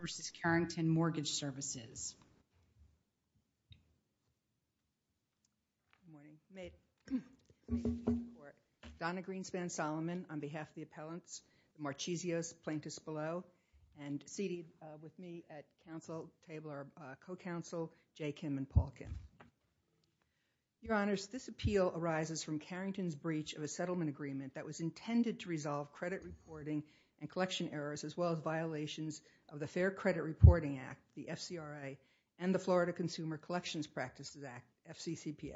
v. Carrington Mortgage Services. Donna Greenspan-Solomon on behalf of the Appellants, Marchisio, Plaintiffs Below, and seated with me at Council Table are Co-Counsel Jay Kim and Paul Kim. Your Honors, this appeal arises from Carrington's breach of a settlement agreement that was intended to resolve credit reporting and collection errors as well as violations of the Fair Credit Reporting Act, the FCRA, and the Florida Consumer Collections Practices Act, FCCPA.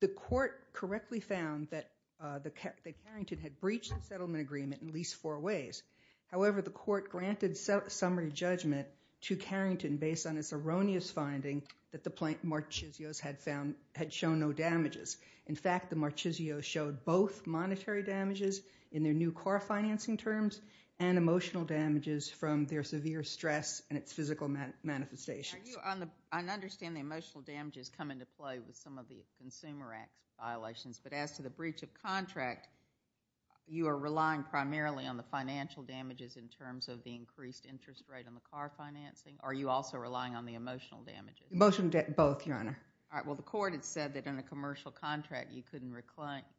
The Court correctly found that Carrington had breached the settlement agreement in at least four ways. However, the Court granted summary judgment to Carrington based on its erroneous finding that the Marchisios had shown no damages. In fact, the Marchisios showed both monetary damages in their new car financing terms and emotional damages from their severe stress and its physical manifestations. I understand the emotional damages come into play with some of the Consumer Act violations, but as to the breach of contract, you are relying primarily on the financial damages in terms of the increased interest rate on the car financing, or are you also relying on the emotional damages? Both, Your Honor. All right. Well, the Court had said that in a commercial contract you couldn't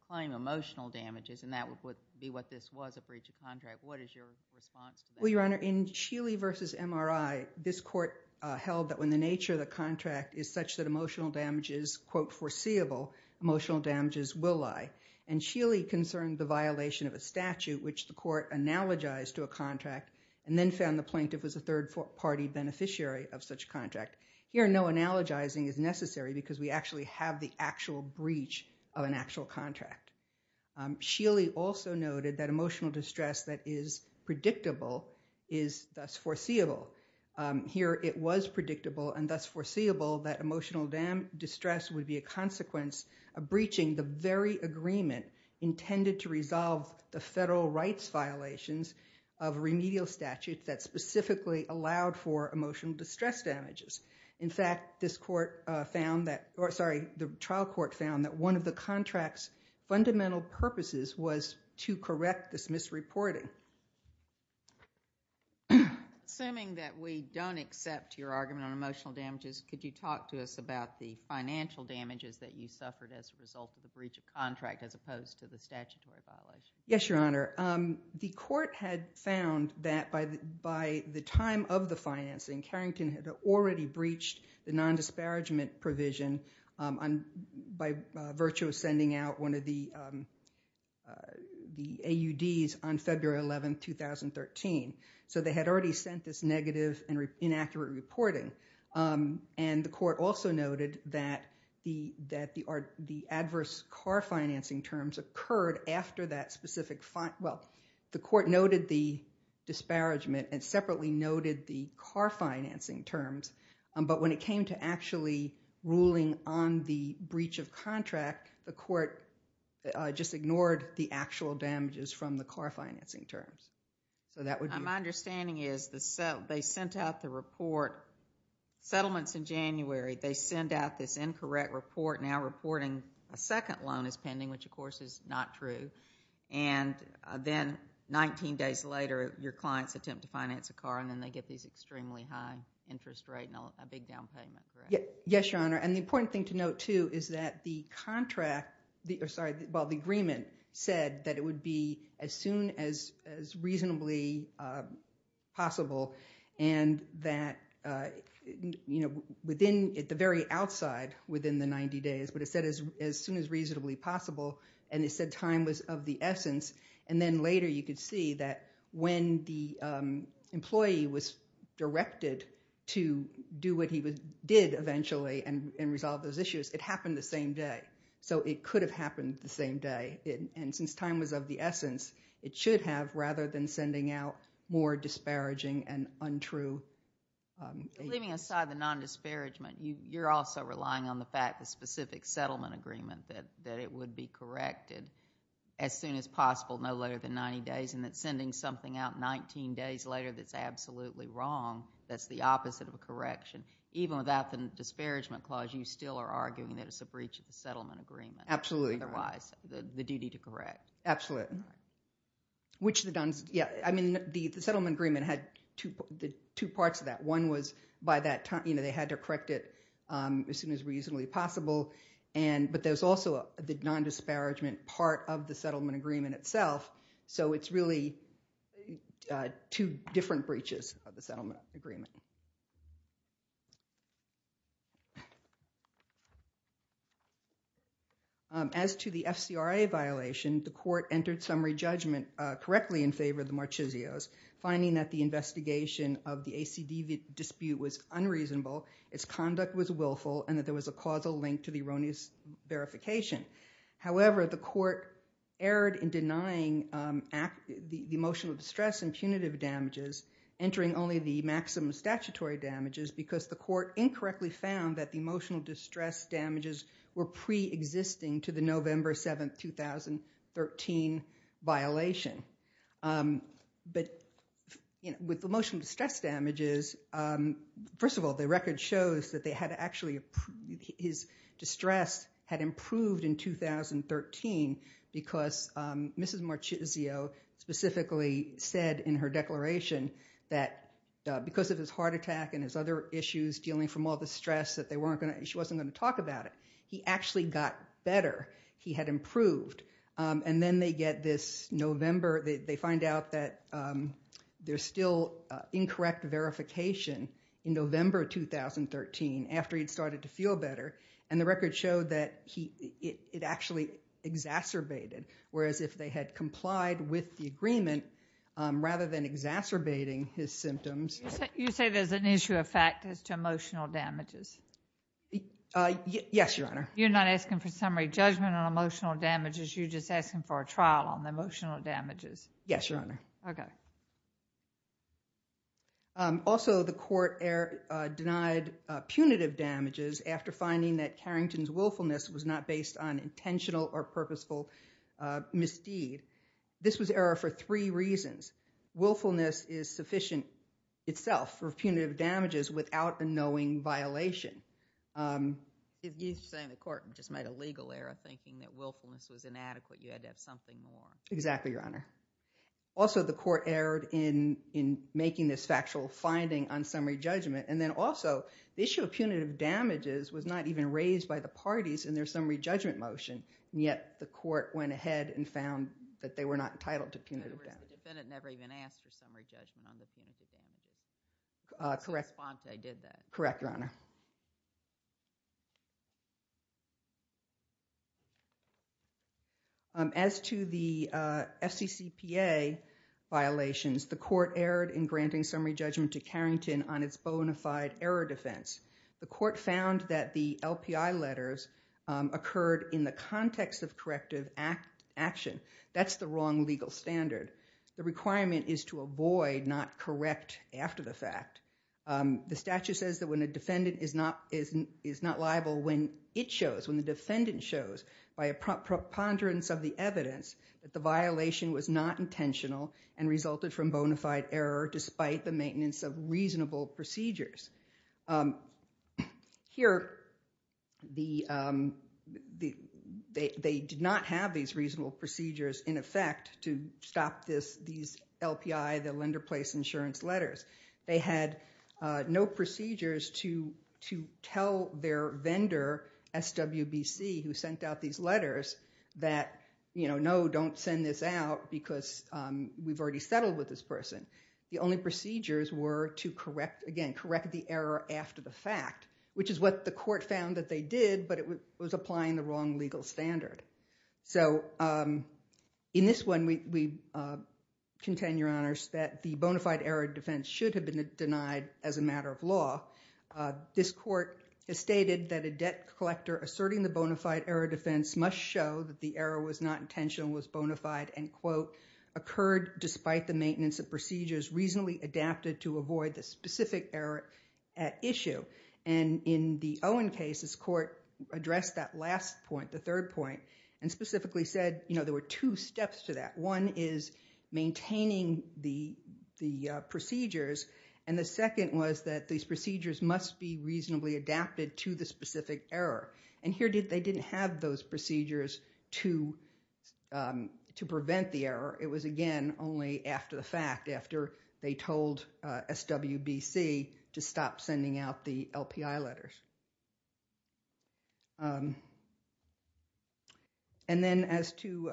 claim emotional damages and that would be what this was, a breach of contract. What is your response to that? Well, Your Honor, in Sheely v. MRI, this Court held that when the nature of the contract is such that emotional damages, quote, foreseeable, emotional damages will lie. And Sheely concerned the violation of a statute which the Court analogized to a contract and then found the plaintiff was a third-party beneficiary of such contract. Here no analogizing is necessary because we actually have the actual breach of an actual contract. Sheely also noted that emotional distress that is predictable is thus foreseeable. Here it was predictable and thus foreseeable that emotional distress would be a consequence of breaching the very agreement intended to resolve the federal rights violations of remedial statutes that specifically allowed for emotional distress damages. In fact, this Court found that, or sorry, the trial court found that one of the contract's fundamental purposes was to correct this misreporting. Assuming that we don't accept your argument on emotional damages, could you talk to us about the financial damages that you suffered as a result of the breach of contract as opposed to the statutory violation? Yes, Your Honor. The Court had found that by the time of the financing, Carrington had already breached the non-disparagement provision by virtue of sending out one of the AUDs on February 11, 2013. So they had already sent this negative and inaccurate reporting. And the Court also noted that the adverse Carr financing terms occurred after that specific fine. Well, the Court noted the disparagement and separately noted the Carr financing terms. But when it came to actually ruling on the breach of contract, the Court just ignored the actual damages from the Carr financing terms. So that would be... Settlements in January, they send out this incorrect report now reporting a second loan is pending, which of course is not true. And then 19 days later, your clients attempt to finance a Carr, and then they get these extremely high interest rate and a big down payment, correct? Yes, Your Honor. And the important thing to note, too, is that the contract, or sorry, well, the agreement said that it would be as soon as reasonably possible and that, you know, within the very outside, within the 90 days, but it said as soon as reasonably possible, and it said time was of the essence. And then later you could see that when the employee was directed to do what he did eventually and resolve those issues, it happened the same day. So it could have happened the same day, and since time was of the essence, it should have rather than sending out more disparaging and untrue... Leaving aside the non-disparagement, you're also relying on the fact of specific settlement agreement that it would be corrected as soon as possible, no later than 90 days, and that sending something out 19 days later that's absolutely wrong, that's the opposite of a correction. Even without the disparagement clause, you still are arguing that it's a breach of the settlement agreement. Absolutely. Otherwise, the duty to correct. Absolutely. Which the... yeah, I mean, the settlement agreement had two parts of that. One was by that time, you know, they had to correct it as soon as reasonably possible, but there's also the non-disparagement part of the settlement agreement itself, so it's really two different breaches of the settlement agreement. As to the FCRA violation, the court entered summary judgment correctly in favor of the Marchisio's, finding that the investigation of the ACD dispute was unreasonable, its conduct was willful, and that there was a causal link to the erroneous verification. However, the court erred in denying the emotional distress and punitive damages, entering only the maximum statutory damages, because the court incorrectly found that the emotional distress damages were pre-existing to the November 7, 2013, violation, but with emotional distress damages, first of all, the record shows that they had actually... his distress had improved in 2013, because Mrs. Marchisio specifically said in her declaration that because of his heart attack and his other issues, dealing from all the stress, that they weren't going to... she wasn't going to talk about it. He actually got better. He had improved. And then they get this November... they find out that there's still incorrect verification in November, 2013, after he had started to feel better, and the record showed that it actually exacerbated, whereas if they had complied with the agreement, rather than exacerbating his symptoms... You say there's an issue of factors to emotional damages? Yes, Your Honor. You're not asking for summary judgment on emotional damages, you're just asking for a trial on emotional damages? Yes, Your Honor. Okay. Also, the court denied punitive damages after finding that Carrington's willfulness was not based on intentional or purposeful misdeed. This was error for three reasons. Willfulness is sufficient itself for punitive damages without a knowing violation. You're saying the court just made a legal error, thinking that willfulness was inadequate, Exactly, Your Honor. Also, the court erred in making this factual finding on summary judgment. And then also, the issue of punitive damages was not even raised by the parties in their summary judgment motion, and yet the court went ahead and found that they were not entitled to punitive damages. In other words, the defendant never even asked for summary judgment on the punitive damages. Correct. Since Fonte did that. Correct, Your Honor. As to the FCCPA violations, the court erred in granting summary judgment to Carrington on its bona fide error defense. The court found that the LPI letters occurred in the context of corrective action. That's the wrong legal standard. The requirement is to avoid not correct after the fact. The statute says that when a defendant is not liable, when it shows, when the defendant shows by a preponderance of the evidence that the violation was not intentional and resulted from bona fide error despite the maintenance of reasonable procedures. Here they did not have these reasonable procedures in effect to stop these LPI, the lender place insurance letters. They had no procedures to tell their vendor, SWBC, who sent out these letters, that no, don't send this out because we've already settled with this person. The only procedures were to correct, again, correct the error after the fact, which is what the court found that they did, but it was applying the wrong legal standard. So in this one, we contend, Your Honors, that the bona fide error defense should have been denied as a matter of law. This court has stated that a debt collector asserting the bona fide error defense must show that the error was not intentional, was bona fide, and, quote, occurred despite the maintenance of procedures reasonably adapted to avoid the specific error at issue. In the Owen case, this court addressed that last point, the third point, and specifically said, you know, there were two steps to that. One is maintaining the procedures, and the second was that these procedures must be reasonably adapted to the specific error. Here they didn't have those procedures to prevent the error. It was again only after the fact, after they told SWBC to stop sending out the LPI letters. And then as to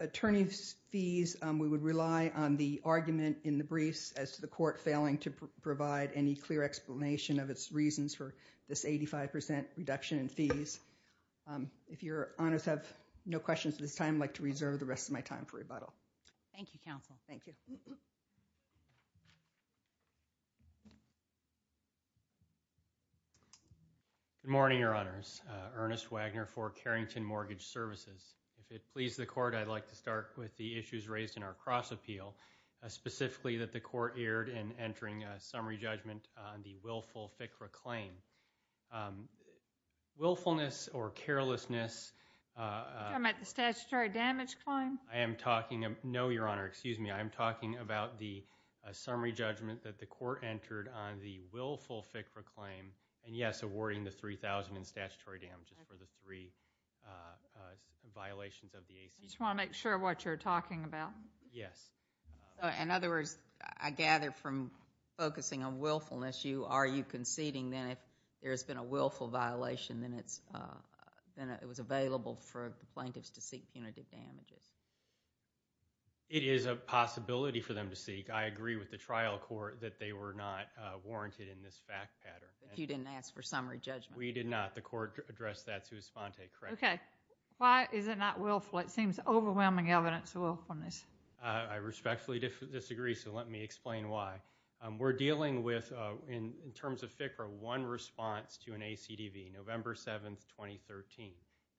attorney's fees, we would rely on the argument in the briefs as to the court failing to provide any clear explanation of its reasons for this 85% reduction in fees. If Your Honors have no questions at this time, I'd like to reserve the rest of my time for Thank you, counsel. Thank you. Good morning, Your Honors. Ernest Wagner for Carrington Mortgage Services. If it pleases the court, I'd like to start with the issues raised in our cross appeal, specifically that the court erred in entering a summary judgment on the willful FCRA claim. Willfulness or carelessness. Are you talking about the statutory damage claim? No, Your Honor. Excuse me. I'm talking about the summary judgment that the court entered on the willful FCRA claim, and yes, awarding the $3,000 in statutory damages for the three violations of the ACA. I just want to make sure what you're talking about. Yes. In other words, I gather from focusing on willfulness, are you conceding that if there's been a willful violation, then it was available for the plaintiffs to seek punitive damages? It is a possibility for them to seek. I agree with the trial court that they were not warranted in this fact pattern. You didn't ask for summary judgment? We did not. The court addressed that to Esponte, correct? Okay. Why is it not willful? It seems overwhelming evidence of willfulness. I respectfully disagree, so let me explain why. We're dealing with, in terms of FCRA, one response to an ACDV, November 7, 2013.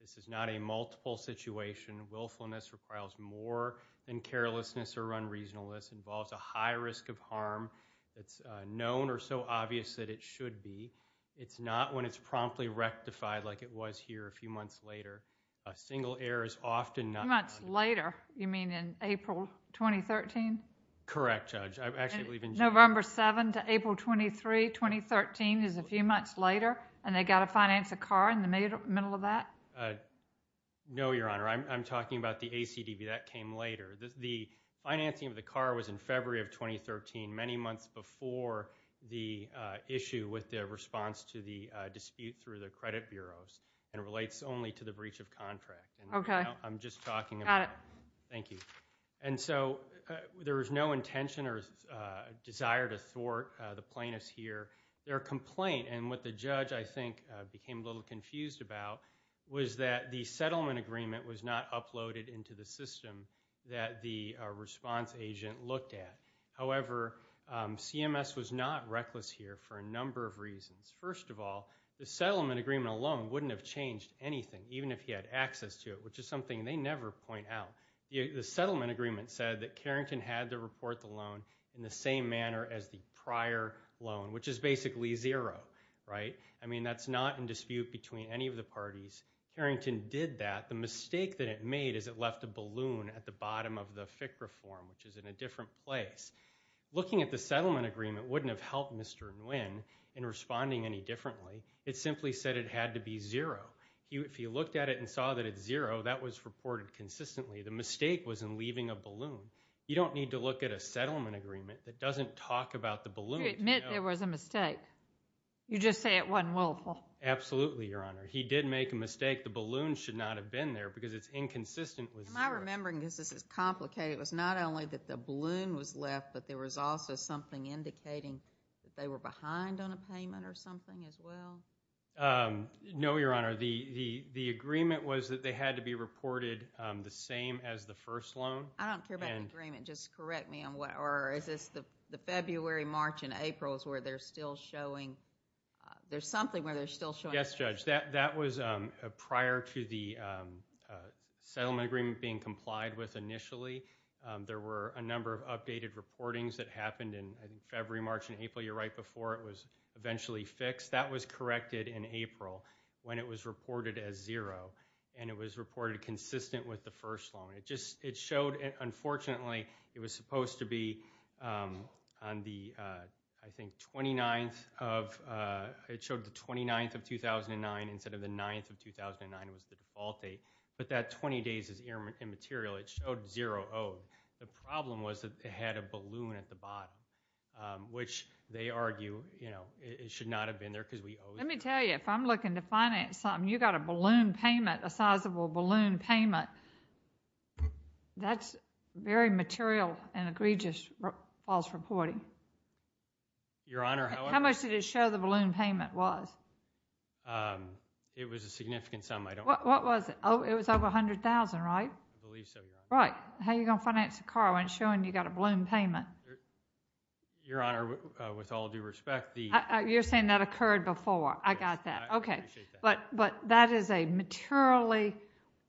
This is not a multiple situation. Willfulness requires more than carelessness or unreasonableness, involves a high risk of harm. It's known or so obvious that it should be. It's not when it's promptly rectified like it was here a few months later. Single error is often not... A few months later? You mean in April, 2013? Correct, Judge. November 7 to April 23, 2013 is a few months later, and they've got to finance a car in the middle of that? No, Your Honor. I'm talking about the ACDV. That came later. The financing of the car was in February of 2013, many months before the issue with the response to the dispute through the credit bureaus, and it relates only to the breach of contract. Okay. I'm just talking about... Got it. Thank you. And so there was no intention or desire to thwart the plaintiff's here. Their complaint, and what the judge, I think, became a little confused about, was that the settlement agreement was not uploaded into the system that the response agent looked at. However, CMS was not reckless here for a number of reasons. First of all, the settlement agreement alone wouldn't have changed anything, even if he had access to it, which is something they never point out. The settlement agreement said that Carrington had to report the loan in the same manner as the prior loan, which is basically zero, right? I mean, that's not in dispute between any of the parties. Carrington did that. The mistake that it made is it left a balloon at the bottom of the FIC reform, which is in a different place. Looking at the settlement agreement wouldn't have helped Mr. Nguyen in responding any differently. It simply said it had to be zero. If he looked at it and saw that it's zero, that was reported consistently. The mistake was in leaving a balloon. You don't need to look at a settlement agreement that doesn't talk about the balloon. You admit there was a mistake. You just say it wasn't willful. Absolutely, Your Honor. He did make a mistake. The balloon should not have been there because it's inconsistent with zero. Am I remembering, because this is complicated, it was not only that the balloon was left, but there was also something indicating that they were behind on a payment or something as well? No, Your Honor. The agreement was that they had to be reported the same as the first loan. I don't care about the agreement. Just correct me. Is this the February, March, and April is where they're still showing... There's something where they're still showing... Yes, Judge. That was prior to the settlement agreement being complied with initially. There were a number of updated reportings that happened in February, March, and April. You're right. Before it was eventually fixed. That was corrected in April when it was reported as zero, and it was reported consistent with the first loan. It showed, unfortunately, it was supposed to be on the, I think, 29th of... It showed the 29th of 2009 instead of the 9th of 2009 was the default date, but that 20 days is immaterial. It showed zero owed. The problem was that they had a balloon at the bottom, which they argue it should not have been there because we owe... Let me tell you. If I'm looking to finance something, you got a balloon payment, a sizable balloon payment. That's very material and egregious false reporting. Your Honor, however... How much did it show the balloon payment was? It was a significant sum. I don't... What was it? It was over $100,000, right? I believe so, Your Honor. Right. How are you going to finance a car when it's showing you got a balloon payment? Your Honor, with all due respect, the... You're saying that occurred before. I got that. Okay. I appreciate that. That is a materially,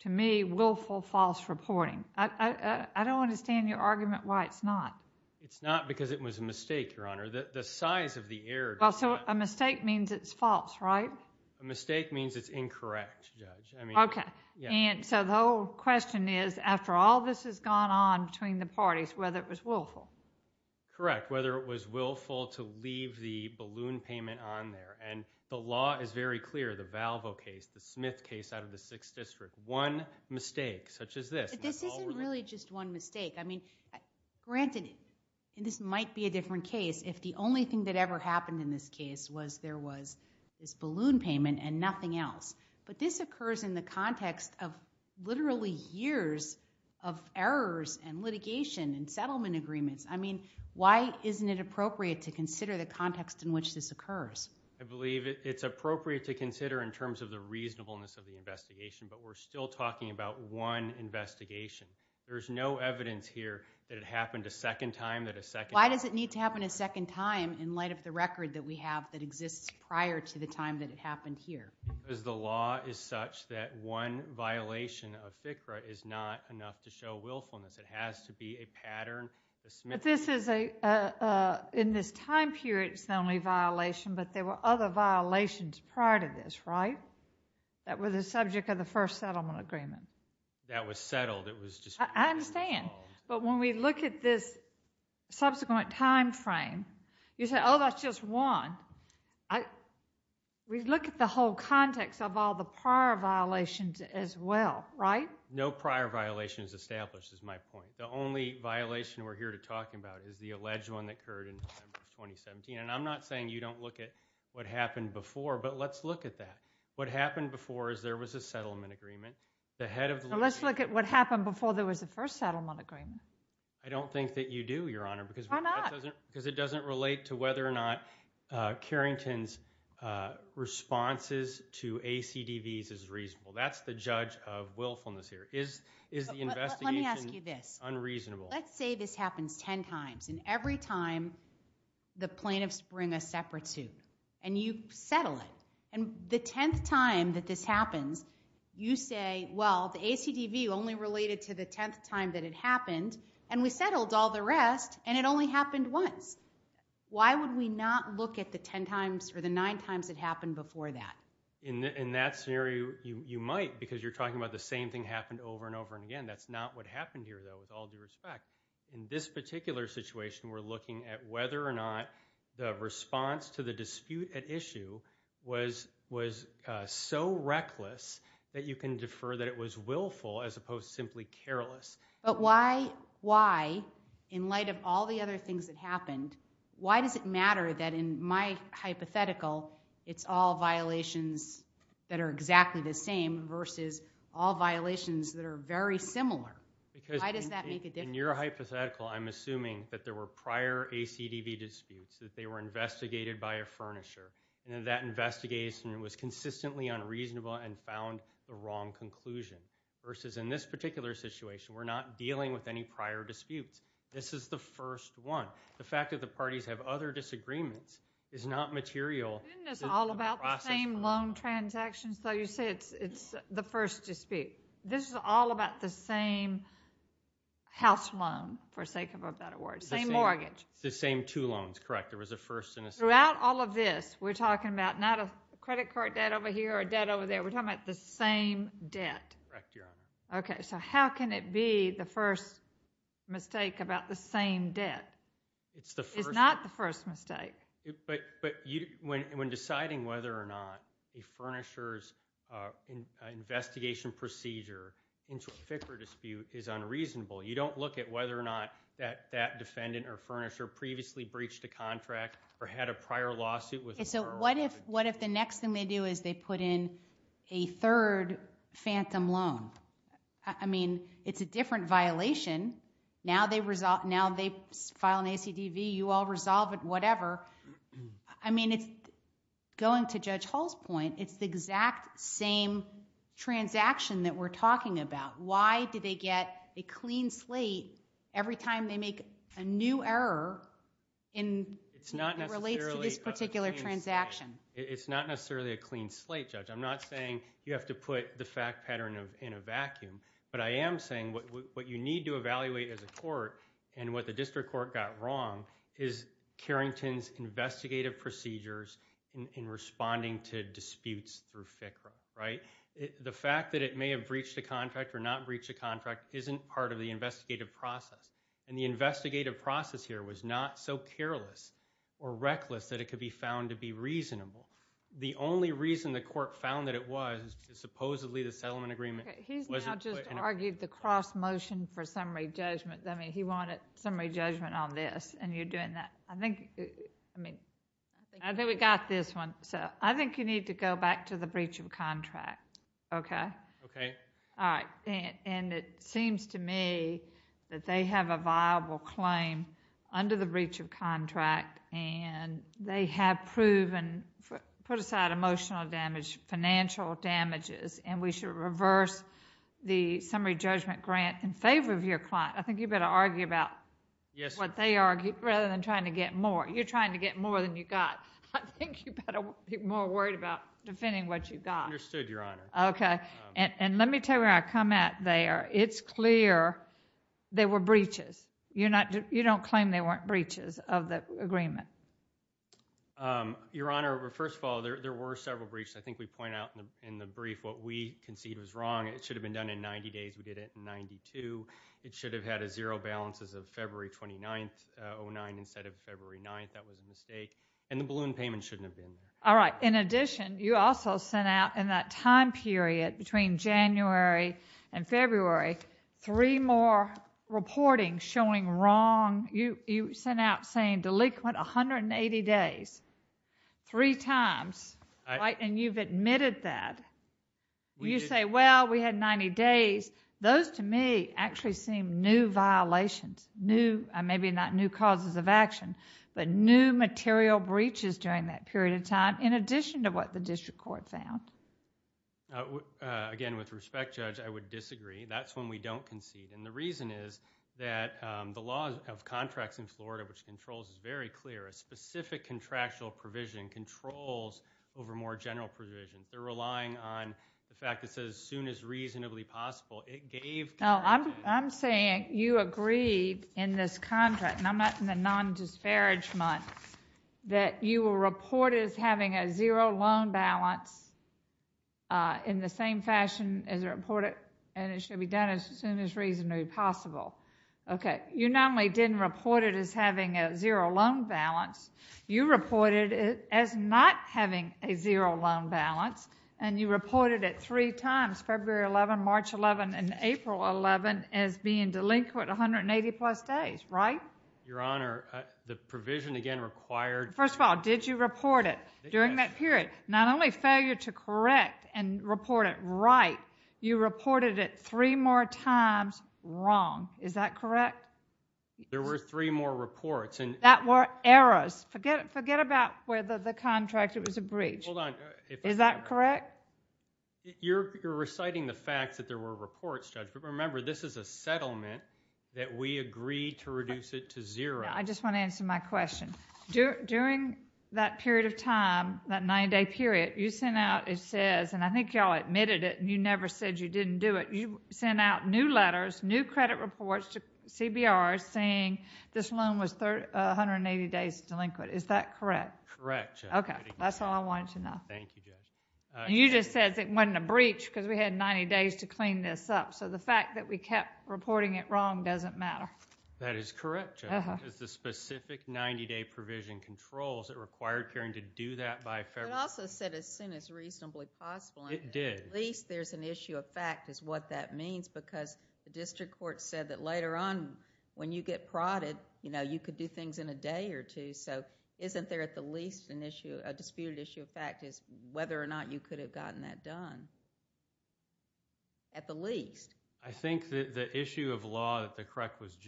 to me, willful false reporting. I don't understand your argument why it's not. It's not because it was a mistake, Your Honor. The size of the error does not... A mistake means it's false, right? A mistake means it's incorrect, Judge. I mean... Okay. The whole question is, after all this has gone on between the parties, whether it was willful. Correct. Whether it was willful to leave the balloon payment on there. The law is very clear, the Valvo case, the Smith case out of the 6th District. One mistake, such as this. This isn't really just one mistake. I mean, granted, this might be a different case if the only thing that ever happened in this case was there was this balloon payment and nothing else. This occurs in the context of literally years of errors and litigation and settlement agreements. I mean, why isn't it appropriate to consider the context in which this occurs? I believe it's appropriate to consider in terms of the reasonableness of the investigation, but we're still talking about one investigation. There's no evidence here that it happened a second time, that a second... Why does it need to happen a second time in light of the record that we have that exists prior to the time that it happened here? Because the law is such that one violation of FCRA is not enough to show willfulness. It has to be a pattern. But this is a... In this time period, it's the only violation, but there were other violations prior to this, right? That were the subject of the first settlement agreement. That was settled. It was just... I understand. But when we look at this subsequent time frame, you say, oh, that's just one. We look at the whole context of all the prior violations as well, right? No prior violation is established, is my point. The only violation we're here to talk about is the alleged one that occurred in December of 2017. And I'm not saying you don't look at what happened before, but let's look at that. What happened before is there was a settlement agreement. The head of the... Let's look at what happened before there was the first settlement agreement. I don't think that you do, Your Honor, because... Why not? Because it doesn't relate to whether or not Carrington's responses to ACDVs is reasonable. That's the judge of willfulness here. Is the investigation unreasonable? Let me ask you this. Let's say this happens 10 times, and every time the plaintiffs bring a separate suit, and you settle it. And the 10th time that this happens, you say, well, the ACDV only related to the 10th time that it happened, and we settled all the rest, and it only happened once. Why would we not look at the 10 times or the nine times it happened before that? In that scenario, you might, because you're talking about the same thing happened over and over again. That's not what happened here, though, with all due respect. In this particular situation, we're looking at whether or not the response to the dispute at issue was so reckless that you can defer that it was willful as opposed to simply careless. But why, in light of all the other things that happened, why does it matter that in my hypothetical, it's all violations that are exactly the same versus all violations that are very similar? Why does that make a difference? In your hypothetical, I'm assuming that there were prior ACDV disputes, that they were investigated by a furnisher, and that investigation was consistently unreasonable and found the wrong conclusion, versus in this particular situation, we're not dealing with any prior disputes. This is the first one. The fact that the parties have other disagreements is not material. Isn't this all about the same loan transactions, though? You said it's the first dispute. This is all about the same house loan, for sake of a better word, same mortgage. The same two loans, correct. There was a first and a second. Throughout all of this, we're talking about not a credit card debt over here or a debt over there. We're talking about the same debt. Correct, Your Honor. Okay. How can it be the first mistake about the same debt? It's not the first mistake. When deciding whether or not a furnisher's investigation procedure into a FICRA dispute is unreasonable, you don't look at whether or not that defendant or furnisher previously breached a contract or had a prior lawsuit with the borrower. What if the next thing they do is they put in a third phantom loan? I mean, it's a different violation. Now they file an ACDV, you all resolve it, whatever. I mean, going to Judge Hall's point, it's the exact same transaction that we're talking about. Why do they get a clean slate every time they make a new error that relates to this particular transaction? It's not necessarily a clean slate, Judge. I'm not saying you have to put the fact pattern in a vacuum, but I am saying what you need to evaluate as a court and what the district court got wrong is Carrington's investigative procedures in responding to disputes through FICRA, right? The fact that it may have breached a contract or not breached a contract isn't part of the investigative process, and the investigative process here was not so careless or reckless that it could be found to be reasonable. The only reason the court found that it was is supposedly the settlement agreement wasn't put in a vacuum. He's now just argued the cross-motion for summary judgment. I mean, he wanted summary judgment on this, and you're doing that. I think we got this one. I think you need to go back to the breach of contract, okay? Okay. All right. It seems to me that they have a viable claim under the breach of contract, and they have approved and put aside emotional damage, financial damages, and we should reverse the summary judgment grant in favor of your client. I think you better argue about what they argued rather than trying to get more. You're trying to get more than you got. I think you better be more worried about defending what you got. Understood, Your Honor. Okay. Let me tell you where I come at there. It's clear there were breaches. You don't claim there weren't breaches of the agreement. Your Honor, first of all, there were several breaches. I think we point out in the brief what we concede was wrong. It should have been done in 90 days. We did it in 92. It should have had a zero balance as of February 29th, 2009, instead of February 9th. That was a mistake. And the balloon payment shouldn't have been there. All right. In addition, you also sent out in that time period between January and February three more reporting showing wrong... you sent out saying delinquent 180 days, three times, and you've admitted that. You say, well, we had 90 days. Those to me actually seem new violations, new... maybe not new causes of action, but new material breaches during that period of time in addition to what the district court found. Again, with respect, Judge, I would disagree. That's when we don't concede. And the reason is that the law of contracts in Florida, which controls, is very clear. A specific contractual provision controls over more general provisions. They're relying on the fact that it says as soon as reasonably possible. It gave... No, I'm saying you agreed in this contract, and I'm not in the non-disparage month, that you will report as having a zero loan balance in the same fashion as reported, and it should be done as soon as reasonably possible. Okay. You not only didn't report it as having a zero loan balance, you reported it as not having a zero loan balance, and you reported it three times, February 11, March 11, and April 11, as being delinquent 180 plus days, right? Your Honor, the provision, again, required... First of all, did you report it during that period? Not only failure to correct and report it right, you reported it three more times wrong. Is that correct? There were three more reports. That were errors. Forget about whether the contract, it was a breach. Is that correct? You're reciting the fact that there were reports, Judge, but remember, this is a settlement that we agreed to reduce it to zero. I just want to answer my question. During that period of time, that 90-day period, you sent out, it says, and I think you all admitted it, and you never said you didn't do it, you sent out new letters, new credit reports to CBR saying this loan was 180 days delinquent. Is that correct? Correct, Judge. Okay. That's all I wanted to know. Thank you, Judge. You just said it wasn't a breach because we had 90 days to clean this up, so the fact that we kept reporting it wrong doesn't matter. That is correct, Judge. Because the specific 90-day provision controls, it required Karen to do that by February... It also said as soon as reasonably possible. It did. At least there's an issue of fact is what that means because the district court said that later on when you get prodded, you could do things in a day or two, so isn't there at the least a disputed issue of fact is whether or not you could have gotten that done? At the least. I think that the issue of law that was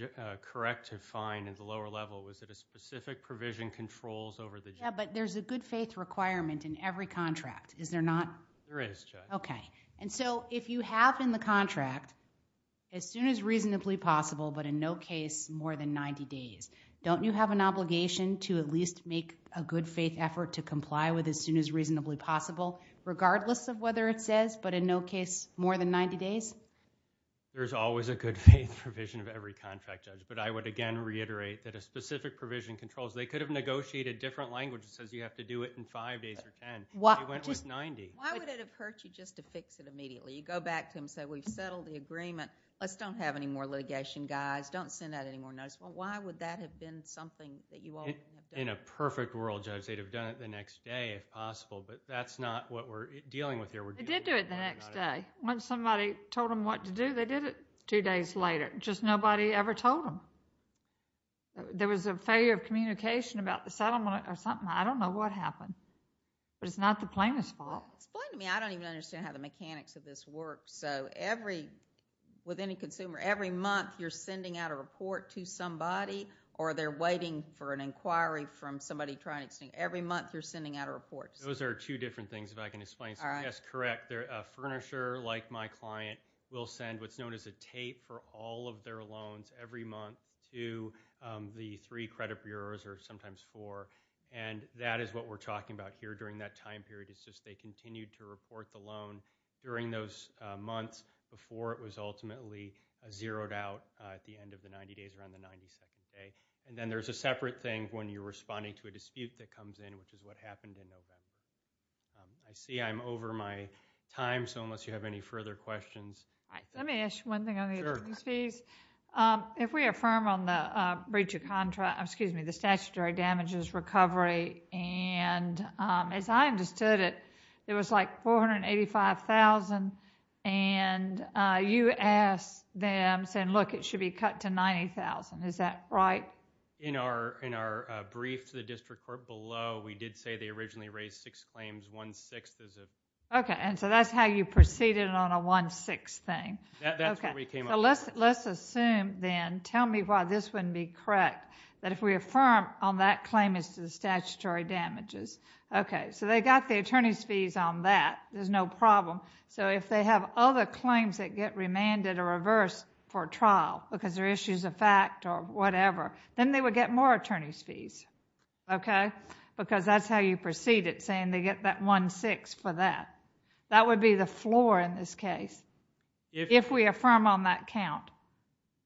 correct to find at the lower level was that a specific provision controls over the... Yeah, but there's a good faith requirement in every contract. Is there not? There is, Judge. Okay. And so, if you have in the contract, as soon as reasonably possible, but in no case more than 90 days, don't you have an obligation to at least make a good faith effort to comply with as soon as reasonably possible, regardless of whether it says, but in no case more than 90 days? There's always a good faith provision of every contract, Judge, but I would again reiterate that a specific provision controls. They could have negotiated different language that says you have to do it in five days or ten, but they went with 90. Why would it have hurt you just to fix it immediately? You go back to them and say, we've settled the agreement, let's don't have any more litigation guys. Don't send out any more notice. Why would that have been something that you all... In a perfect world, Judge, they'd have done it the next day if possible, but that's not what we're dealing with here. We're dealing with... They did do it the next day. Once somebody told them what to do, they did it two days later. Just nobody ever told them. There was a failure of communication about the settlement or something. I don't know what happened, but it's not the plaintiff's fault. Explain to me. I don't even understand how the mechanics of this work. With any consumer, every month you're sending out a report to somebody, or they're waiting for an inquiry from somebody trying to... Every month you're sending out a report. Those are two different things, if I can explain something. That's correct. A furnisher like my client will send what's known as a tape for all of their loans every month to the three credit bureaus, or sometimes four, and that is what we're talking about here during that time period. It's just they continued to report the loan during those months before it was ultimately zeroed out at the end of the 90 days, around the 92nd day, and then there's a separate thing when you're responding to a dispute that comes in, which is what happened in November. I see I'm over my time, so unless you have any further questions... All right. Let me ask you one thing on the attorneys' fees. Sure. If we affirm on the statutory damages recovery, and as I understood it, it was like $485,000, and you asked them, saying, look, it should be cut to $90,000, is that right? In our brief to the district court below, we did say they originally raised six claims, one-sixth is... Okay, and so that's how you proceeded on a one-sixth thing. That's where we came up with that. Let's assume then, tell me why this wouldn't be correct, that if we affirm on that claim as to the statutory damages, okay, so they got the attorneys' fees on that, there's no problem, so if they have other claims that get remanded or reversed for trial because they're issues of fact or whatever, then they would get more attorneys' fees, okay? Because that's how you proceeded, saying they get that one-sixth for that. That would be the floor in this case, if we affirm on that count.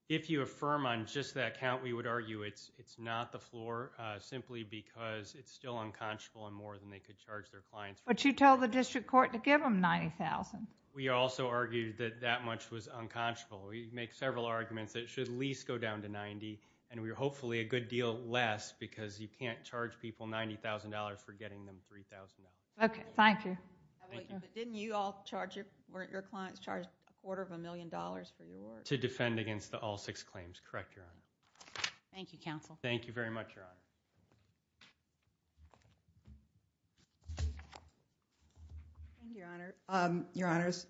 If you affirm on just that count, we would argue it's not the floor simply because it's still unconscionable and more than they could charge their clients for. But you told the district court to give them $90,000. We also argued that that much was unconscionable. We make several arguments that it should at least go down to $90,000 and we're hopefully a good deal less because you can't charge people $90,000 for getting them $3,000. Okay, thank you. Thank you. But didn't you all charge, weren't your clients charged a quarter of a million dollars for your work? To defend against all six claims, correct, Your Honor. Thank you, counsel. Thank you very much, Your Honor. Thank you, Your Honor. Your Honors,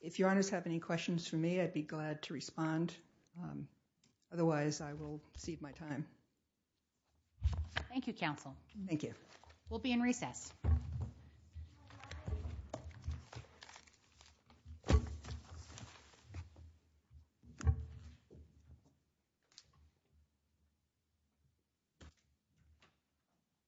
if Your Honors have any questions for me, I'd be glad to respond. Otherwise, I will cede my time. Thank you, counsel. Thank you. We'll be in recess.